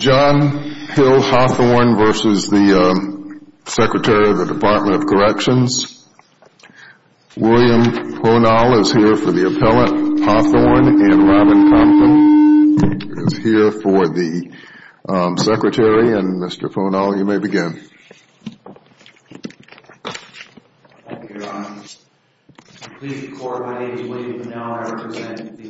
John Hill Hawthorne v. the Secretary of the Department of Corrections. William Ponal is here for the appellate, Hawthorne, and Robin Compton is here for the Secretary, and Mr. Ponal, you may begin. Thank you, Your Honor. Pleased to be court. My name is William Ponal. I represent the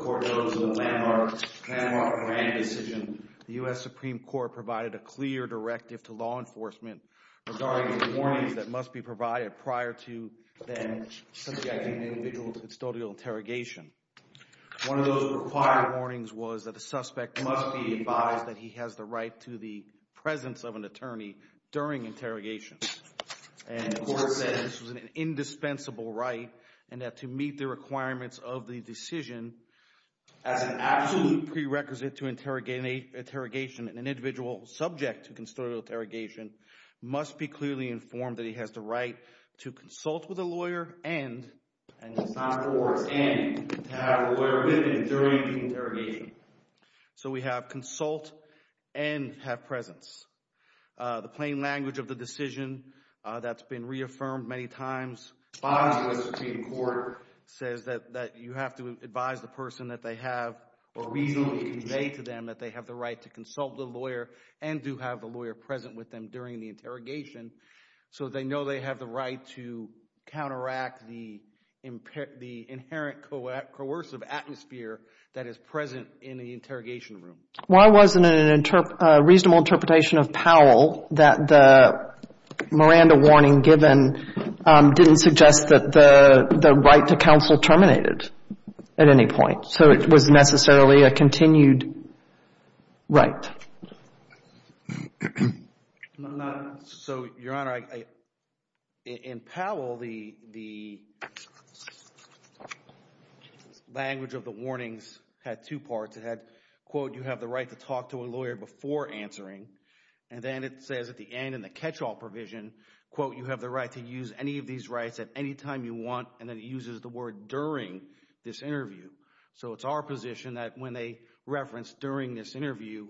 Court of the Landmark Grand Decision. The U.S. Supreme Court provided a clear directive to law enforcement regarding the warnings that must be provided prior to then subjecting an individual to custodial interrogation. One of those required warnings was that a suspect must be advised that he has the right to the presence of an attorney during interrogation. And the Court said this was an indispensable right and that to meet the requirements of the decision as an absolute prerequisite to interrogation and an individual subject to custodial interrogation must be clearly informed that he has the right to consult with a lawyer and to have a lawyer with him during the interrogation. So we have consult and have presence. The plain language of the decision that's been reaffirmed many times by the U.S. Supreme Court says that you have to advise the person that they have a reason to convey to them that they have the right to consult the lawyer and do have the lawyer present with them during the interrogation so they know they have the right to counteract the inherent coercive atmosphere that is present in the interrogation room. Why wasn't it a reasonable interpretation of Powell that the Miranda warning given didn't suggest that the right to counsel terminated at any point? So it was necessarily a continued right? So Your Honor, in Powell, the language of the warnings had two parts. It had, quote, you have the right to talk to a lawyer before answering. And then it says at the end in the catch-all provision, quote, you have the right to use any of these rights at any time you want. And then it uses the word during this interview. So it's our position that when they reference during this interview,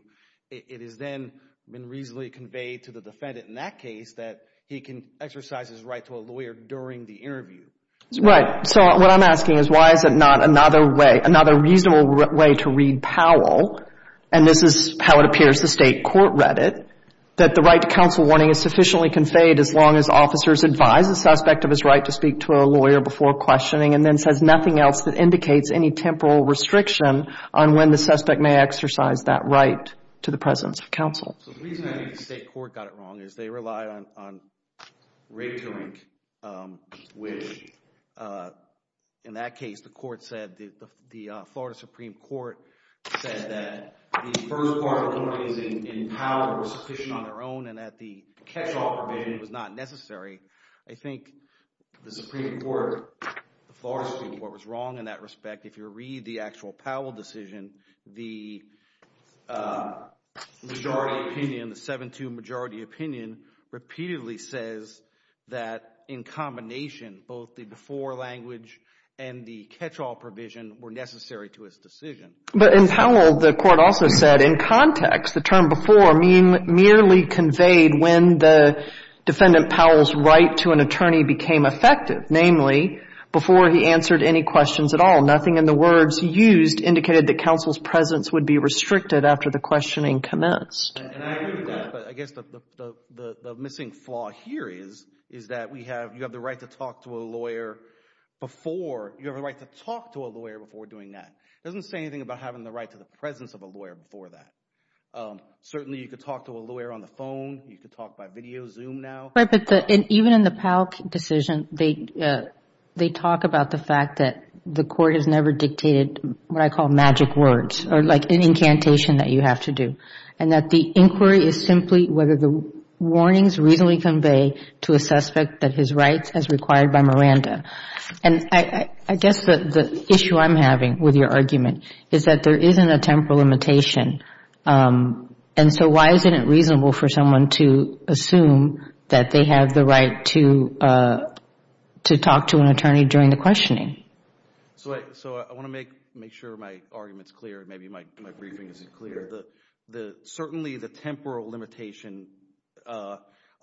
it has then been reasonably conveyed to the defendant in that case that he can exercise his right to a lawyer during the interview. Right. So what I'm asking is why is it not another way, another reasonable way to read Powell, and this is how it appears the State Court read it, that the right to counsel warning is sufficiently conveyed as long as officers advise the suspect of his right to speak to a lawyer before questioning and then says nothing else that indicates any temporal restriction on when the suspect may exercise that right to the presence of counsel? So the reason I think the State Court got it wrong is they relied on rate-to-link, which in that case, the court said, the Florida Supreme Court said that the first part of the court is in Powell was sufficient on their own and that the catch-all provision was not necessary. I think the Supreme Court, the Florida Supreme Court was wrong in that respect. If you read the actual Powell decision, the majority opinion, the 7-2 majority opinion repeatedly says that in combination, both the before language and the catch-all provision were necessary to his decision. But in Powell, the Court also said in context, the term before merely conveyed when the defendant Powell's right to an attorney became effective, namely, before he answered any questions at all. Nothing in the words he used indicated that counsel's presence would be restricted after the questioning commenced. And I agree with that, but I guess the missing flaw here is, is that we have, you have the right to talk to a lawyer before, you have a right to talk to a lawyer before doing that. It doesn't say anything about having the right to the presence of a lawyer before that. Certainly you could talk to a lawyer on the phone, you could talk by video, Zoom now. Right, but even in the Powell decision, they talk about the fact that the court has never The inquiry is simply whether the warnings reasonably convey to a suspect that his rights as required by Miranda. And I guess the issue I'm having with your argument is that there isn't a temporal limitation. And so why isn't it reasonable for someone to assume that they have the right to talk to an attorney during the questioning? So I want to make sure my argument's clear, maybe my briefing isn't clear. The, the, certainly the temporal limitation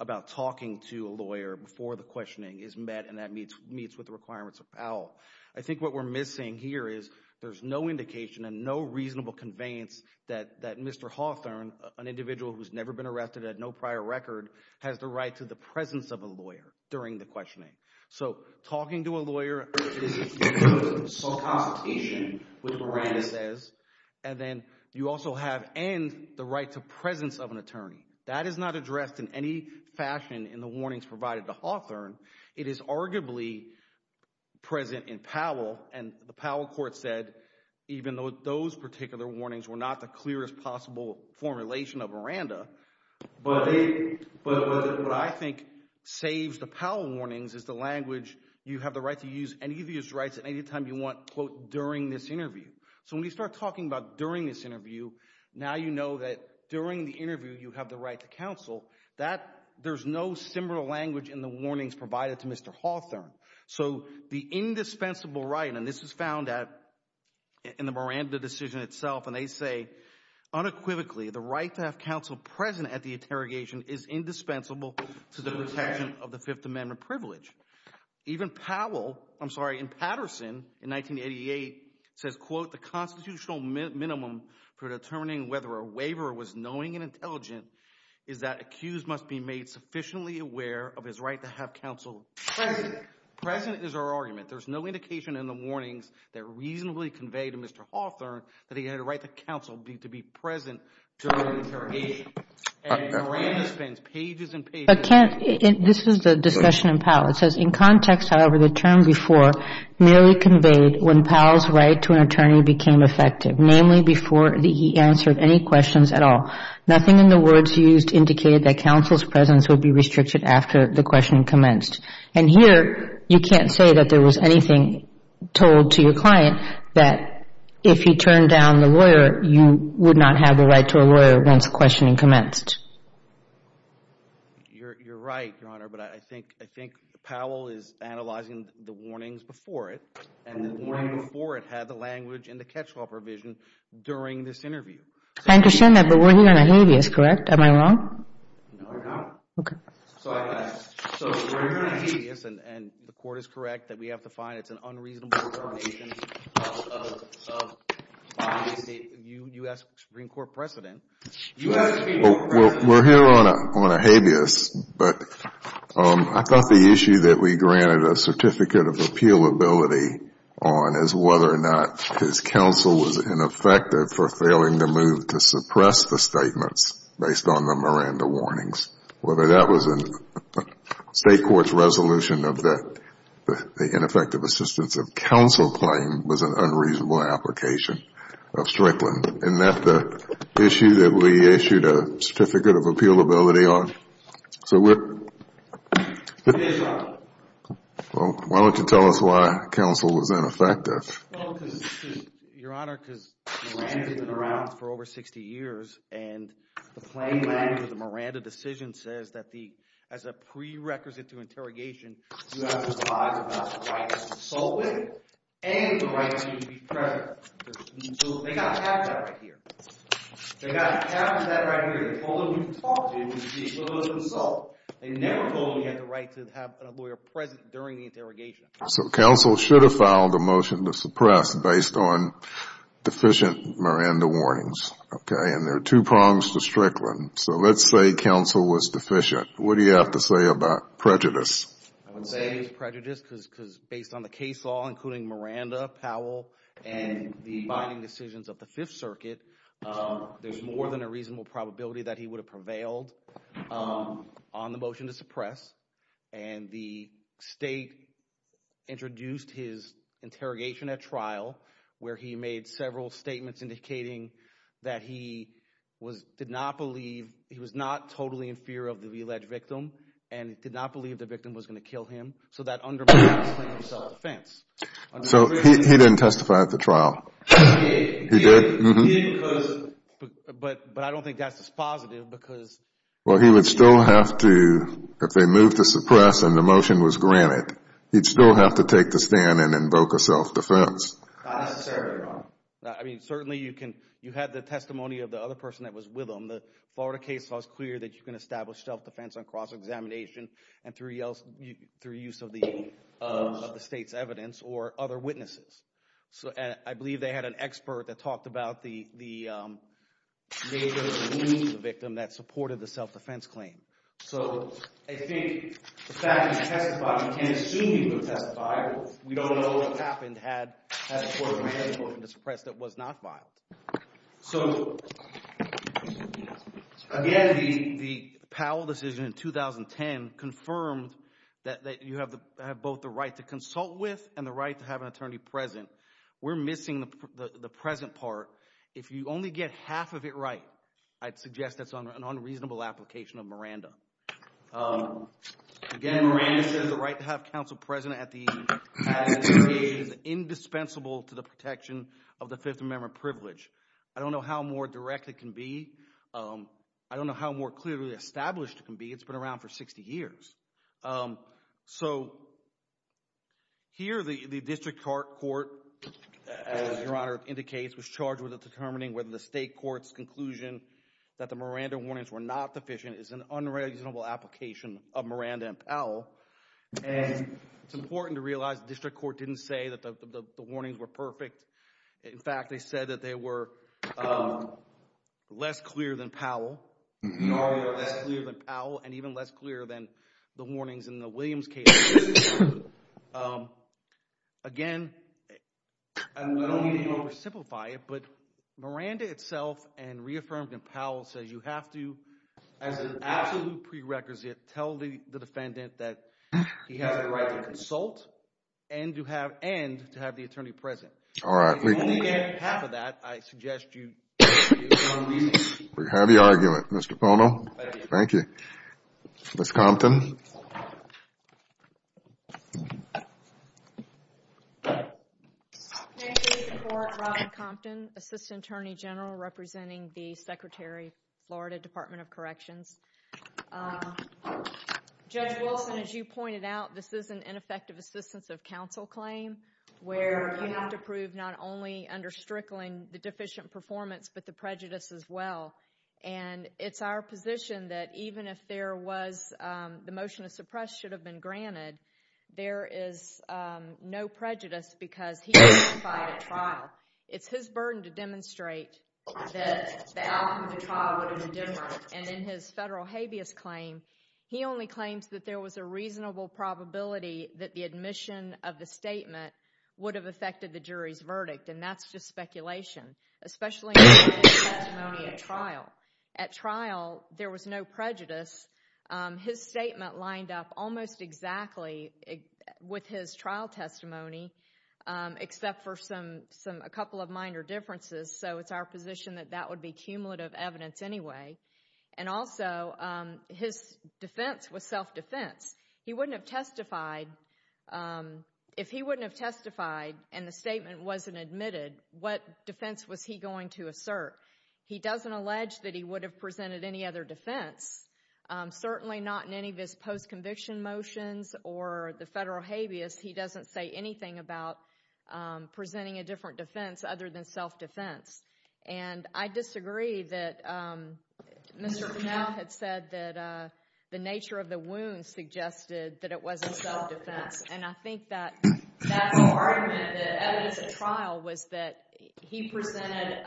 about talking to a lawyer before the questioning is met and that meets, meets with the requirements of Powell. I think what we're missing here is there's no indication and no reasonable conveyance that, that Mr. Hawthorne, an individual who's never been arrested, had no prior record, has the right to the presence of a lawyer during the questioning. So talking to a lawyer is a consultation with Miranda says, and then you also have, and the right to presence of an attorney. That is not addressed in any fashion in the warnings provided to Hawthorne. It is arguably present in Powell and the Powell court said, even though those particular warnings were not the clearest possible formulation of Miranda, but they, but what I think saves the Powell warnings is the language, you have the right to use any of these rights at any time you want, quote, during this interview. So when you start talking about during this interview, now you know that during the interview, you have the right to counsel. That there's no similar language in the warnings provided to Mr. Hawthorne. So the indispensable right, and this was found at, in the Miranda decision itself, and they say, unequivocally, the right to have counsel present at the interrogation is indispensable to the protection of the fifth amendment privilege. Even Powell, I'm sorry, in Patterson in 1988 says, quote, the constitutional minimum for determining whether a waiver was knowing and intelligent is that accused must be made sufficiently aware of his right to have counsel present. Present is our argument. There's no indication in the warnings that reasonably conveyed to Mr. Hawthorne that he had a right to counsel, to be present during the interrogation, and Miranda spends pages and pages. I can't, this is the discussion in Powell. It says, in context, however, the term before merely conveyed when Powell's right to an attorney became effective, namely before he answered any questions at all. Nothing in the words used indicated that counsel's presence would be restricted after the questioning commenced. And here, you can't say that there was anything told to your client that if he turned down a lawyer, you would not have a right to a lawyer once questioning commenced. You're right, Your Honor, but I think Powell is analyzing the warnings before it, and the warning before it had the language in the catch-all provision during this interview. I understand that, but we're hearing a habeas, correct? Am I wrong? No, you're not. Okay. So I guess, so we're hearing a habeas, and the Court is correct that we have to find it's an unreasonable termination of the U.S. Supreme Court precedent. We're hearing on a habeas, but I thought the issue that we granted a certificate of appealability on is whether or not his counsel was ineffective for failing to move to suppress the statements based on the Miranda warnings, whether that was in state court's resolution of the ineffective assistance of counsel claim was an unreasonable application of Strickland, and that the issue that we issued a certificate of appealability on, so we're... It is, Your Honor. Well, why don't you tell us why counsel was ineffective? Well, because, Your Honor, because Miranda's been around for over 60 years, and the claim language of the Miranda decision says that the, as a prerequisite to interrogation, you have to advise about the right to consult with, and the right to be present. So they got a cap on that right here. They got a cap on that right here. They told him he could talk to you if he was able to consult. They never told him he had the right to have a lawyer present during the interrogation. So counsel should have filed a motion to suppress based on deficient Miranda warnings, okay? And there are two prongs to Strickland. So let's say counsel was deficient. What do you have to say about prejudice? I would say it's prejudice, because based on the case law, including Miranda, Powell, and the binding decisions of the Fifth Circuit, there's more than a reasonable probability that he would have prevailed on the motion to suppress. And the state introduced his interrogation at trial, where he made several statements indicating that he was... did not believe... he was not totally in fear of the alleged victim and did not believe the victim was going to kill him. So that undermined his claim of self-defense. So he didn't testify at the trial? He did. He did? He did because... But I don't think that's as positive because... Well, he would still have to... if they moved to suppress and the motion was granted, he'd still have to take the stand and invoke a self-defense. Not necessarily, Your Honor. I mean, certainly you can... you had the testimony of the other person that was with him. The Florida case was clear that you can establish self-defense on cross-examination and through use of the state's evidence or other witnesses. So I believe they had an expert that talked about the nature of the wounds of the victim that supported the self-defense claim. So I think the fact that he testified, you can't assume he would have testified. We don't know what happened had the court granted the motion to suppress that was not violated. So, again, the Powell decision in 2010 confirmed that you have both the right to consult with and the right to have an attorney present. We're missing the present part. If you only get half of it right, I'd suggest that's an unreasonable application of Miranda. Again, Miranda says the right to have counsel present at the application is indispensable to the protection of the Fifth Amendment privilege. I don't know how more direct it can be. I don't know how more clearly established it can be. It's been around for 60 years. So here the district court, as Your Honor indicates, was charged with determining whether the state court's conclusion that the Miranda warnings were not sufficient is an unreasonable application of Miranda and Powell. And it's important to realize the district court didn't say that the warnings were perfect. In fact, they said that they were less clear than Powell. They are less clear than Powell and even less clear than the warnings in the Williams case. Again, I don't mean to oversimplify it, but Miranda itself and reaffirmed in Powell says you have to, as an absolute prerequisite, tell the defendant that he has the right to consult and to have the attorney present. If you only get half of that, I suggest you do it. We have the argument, Mr. Pono. Thank you. Ms. Compton. Thank you for your support, Ron Compton, assistant attorney general representing the Secretary of Florida Department of Corrections. Judge Wilson, as you pointed out, this is an ineffective assistance of counsel claim where you have to prove not only under Strickland the deficient performance but the prejudice as well. And it's our position that even if there was the motion to suppress should have been granted, there is no prejudice because he testified at trial. It's his burden to demonstrate that the outcome of the trial would have been different. And in his federal habeas claim, he only claims that there was a reasonable probability that the admission of the statement would have affected the jury's verdict, and that's just speculation, especially in his testimony at trial. At trial, there was no prejudice. His statement lined up almost exactly with his trial testimony except for a couple of minor differences, so it's our position that that would be cumulative evidence anyway. And also, his defense was self-defense. He wouldn't have testified. If he wouldn't have testified and the statement wasn't admitted, what defense was he going to assert? He doesn't allege that he would have presented any other defense, certainly not in any of his post-conviction motions or the federal habeas. He doesn't say anything about presenting a different defense other than self-defense. And I disagree that Mr. Bunnell had said that the nature of the wound suggested that it wasn't self-defense, and I think that's an argument that evidence at trial was that he presented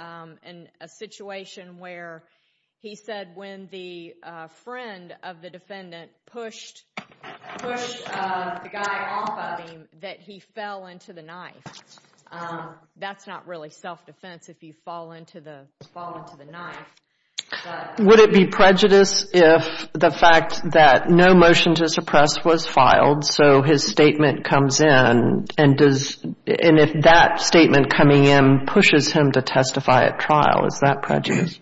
in a situation where he said when the friend of the defendant pushed the guy off of him that he fell into the knife. That's not really self-defense if you fall into the knife. Would it be prejudice if the fact that no motion to suppress was filed, so his statement comes in, and if that statement coming in pushes him to testify at trial, is that prejudice?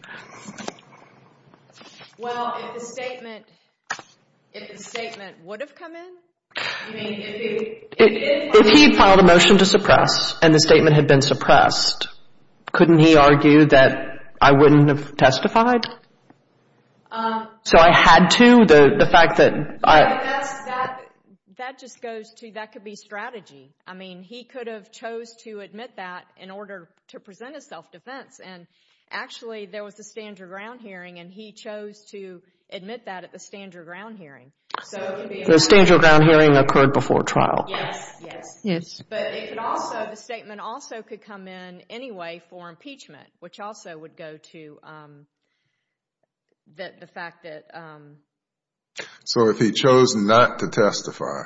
Well, if the statement would have come in? I mean, if he filed a motion to suppress and the statement had been suppressed, couldn't he argue that I wouldn't have testified? So I had to, the fact that I... That just goes to, that could be strategy. I mean, he could have chose to admit that in order to present a self-defense, and actually there was a Stand Your Ground hearing, and he chose to admit that at the Stand Your Ground hearing. The Stand Your Ground hearing occurred before trial. Yes, yes. But it could also, the statement also could come in anyway for impeachment, which also would go to the fact that... So if he chose not to testify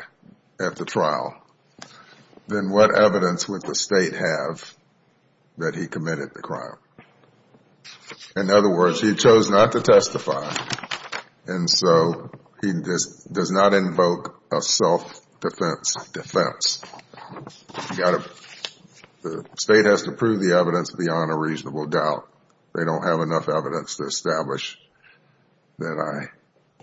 at the trial, then what evidence would the State have that he committed the crime? In other words, he chose not to testify, and so he does not invoke a self-defense defense. The State has to prove the evidence beyond a reasonable doubt. They don't have enough evidence to establish that I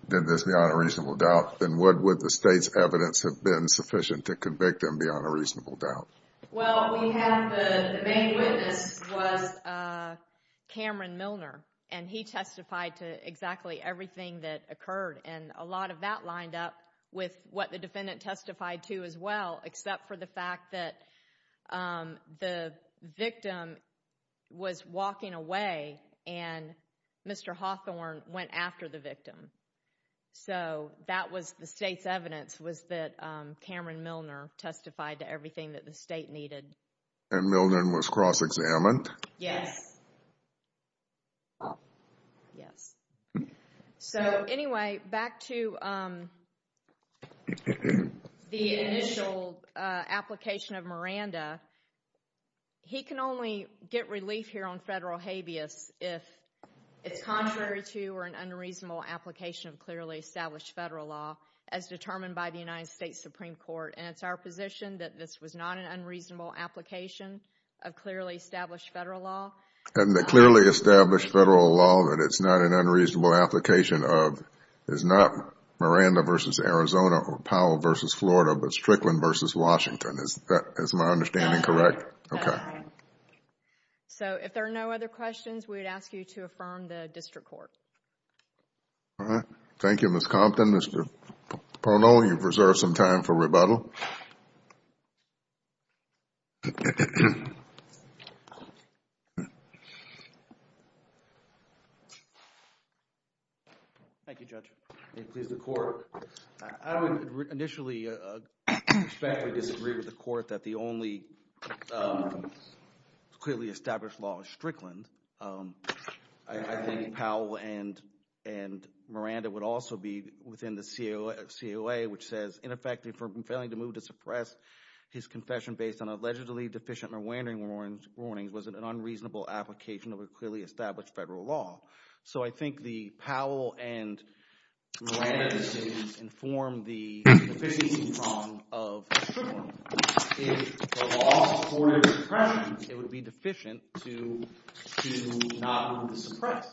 did this beyond a reasonable doubt. Then what would the State's evidence have been sufficient to convict him beyond a reasonable doubt? Well, we have the main witness was Cameron Milner, and he testified to exactly everything that occurred, and a lot of that lined up with what the defendant testified to as well, except for the fact that the victim was walking away, and Mr. Hawthorne went after the victim. So that was the State's evidence was that Cameron Milner testified to everything that the State needed. And Milner was cross-examined? Yes. Oh, yes. So anyway, back to the initial application of Miranda. He can only get relief here on federal habeas if it's contrary to or an unreasonable application of clearly established federal law as determined by the United States Supreme Court, and it's our position that this was not an unreasonable application of clearly established federal law. And the clearly established federal law that it's not an unreasonable application of is not Miranda v. Arizona or Powell v. Florida, but Strickland v. Washington. Is my understanding correct? That's right. So if there are no other questions, we would ask you to affirm the district court. All right. Thank you, Ms. Compton. Mr. Parnell, you've reserved some time for rebuttal. Thank you, Judge. May it please the Court. I would initially respectfully disagree with the Court that the only clearly established law is Strickland. I think Powell and Miranda would also be within the COA, which says, ineffective for failing to move to suppress his confession based on allegedly deficient Miranda warnings was an unreasonable application of a clearly established federal law. So I think the Powell and Miranda decisions inform the deficiency prong of Strickland. If the law supported suppression, it would be deficient to not move to suppress.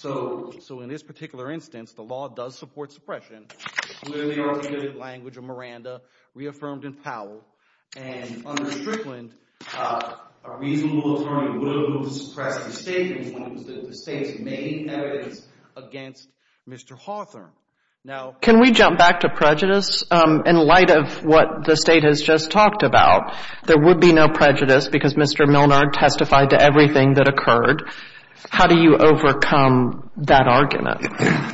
So in this particular instance, the law does support suppression, clearly articulated in the language of Miranda, reaffirmed in Powell, and under Strickland, a reasonable attorney would have moved to suppress the statement when it was the state's main evidence against Mr. Hawthorne. Can we jump back to prejudice? In light of what the State has just talked about, there would be no prejudice because Mr. Milner testified to everything that occurred. How do you overcome that argument?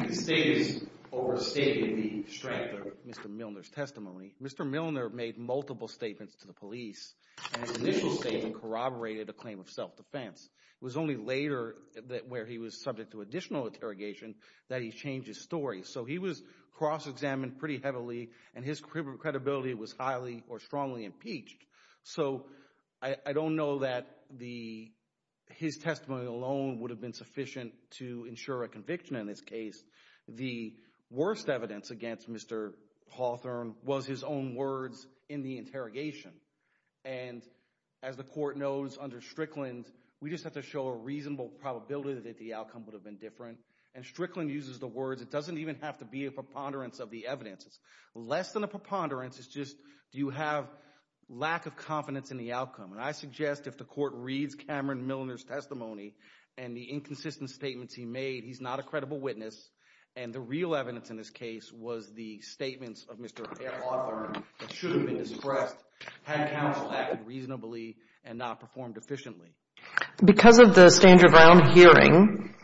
The State has overstated the strength of Mr. Milner's testimony. Mr. Milner made multiple statements to the police, and his initial statement corroborated a claim of self-defense. It was only later, where he was subject to additional interrogation, that he changed his story. So he was cross-examined pretty heavily, and his credibility was highly or strongly impeached. So I don't know that his testimony alone would have been sufficient to ensure a conviction in this case. The worst evidence against Mr. Hawthorne was his own words in the interrogation. And as the Court knows, under Strickland, we just have to show a reasonable probability that the outcome would have been different. And Strickland uses the words, it doesn't even have to be a preponderance of the evidence. Less than a preponderance is just, do you have lack of confidence in the outcome? And I suggest if the Court reads Cameron Milner's testimony and the inconsistent statements he made, he's not a credible witness, and the real evidence in this case was the statements of Mr. Hawthorne that should have been discussed had counsel acted reasonably and not performed efficiently. Because of the Stand Your Ground hearing,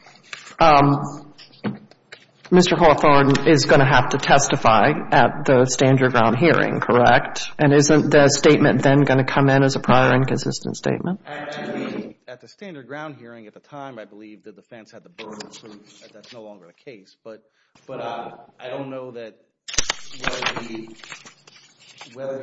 Mr. Hawthorne is going to have to testify at the Stand Your Ground hearing, correct? And isn't the statement then going to come in as a prior inconsistent statement? At the Stand Your Ground hearing at the time, I believe the defense had the verbal proof that that's no longer the case. But I don't know that whether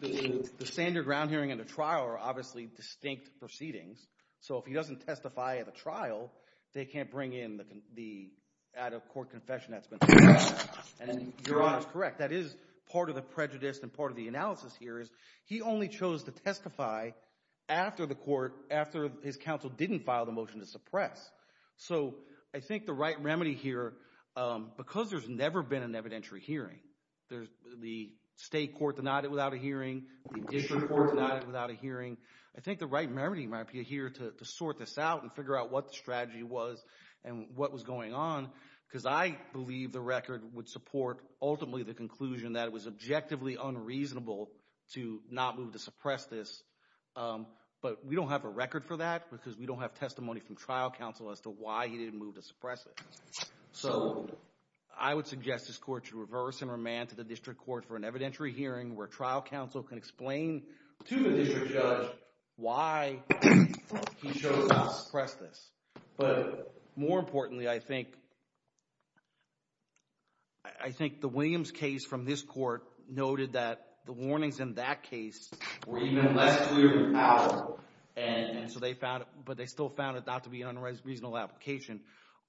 the Stand Your Ground hearing and the trial are obviously distinct proceedings. So if he doesn't testify at the trial, they can't bring in the out-of-court confession that's been filed. And Your Honor is correct. That is part of the prejudice and part of the analysis here is he only chose to testify after the court, after his counsel didn't file the motion to suppress. So I think the right remedy here, because there's never been an evidentiary hearing, the state court denied it without a hearing, the district court denied it without a hearing, I think the right remedy might be here to sort this out and figure out what the strategy was and what was going on because I believe the record would support ultimately the conclusion that it was objectively unreasonable to not move to suppress this. But we don't have a record for that because we don't have testimony from trial counsel as to why he didn't move to suppress it. So I would suggest this court should reverse and remand to the district court for an evidentiary hearing where trial counsel can explain to the district judge why he chose not to suppress this. But more importantly, I think the Williams case from this court noted that the warnings in that case were even less clear than Powell. And so they found it – but they still found it not to be an unreasonable application.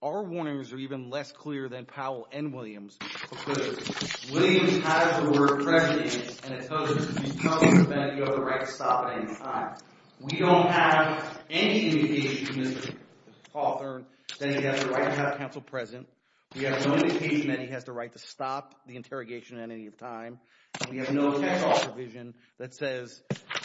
Our warnings are even less clear than Powell and Williams because Williams has the word prejudice and it tells you that you have the right to stop at any time. We don't have any indication from Mr. Hawthorne that he has the right to have counsel present. We have no indication that he has the right to stop the interrogation at any time. We have no text-off provision that says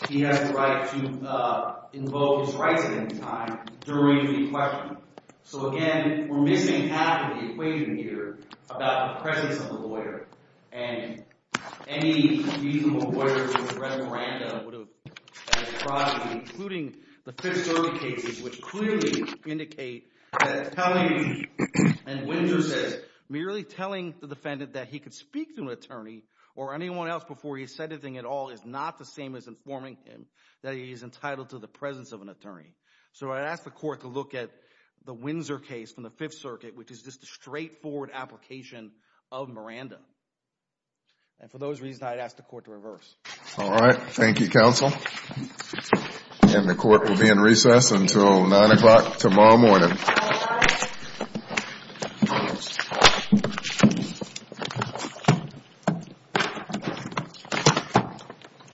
he has the right to invoke his rights at any time during the questioning. So again, we're missing half of the equation here about the presence of the lawyer and any reasonable lawyer to suppress Miranda would have – including the Fifth Circuit cases, which clearly indicate that telling – and Windsor says merely telling the defendant that he could speak to an attorney or anyone else before he said anything at all is not the same as informing him that he is entitled to the presence of an attorney. So I'd ask the court to look at the Windsor case from the Fifth Circuit, which is just a straightforward application of Miranda. And for those reasons, I'd ask the court to reverse. All right. Thank you, counsel. And the court will be in recess until 9 o'clock tomorrow morning.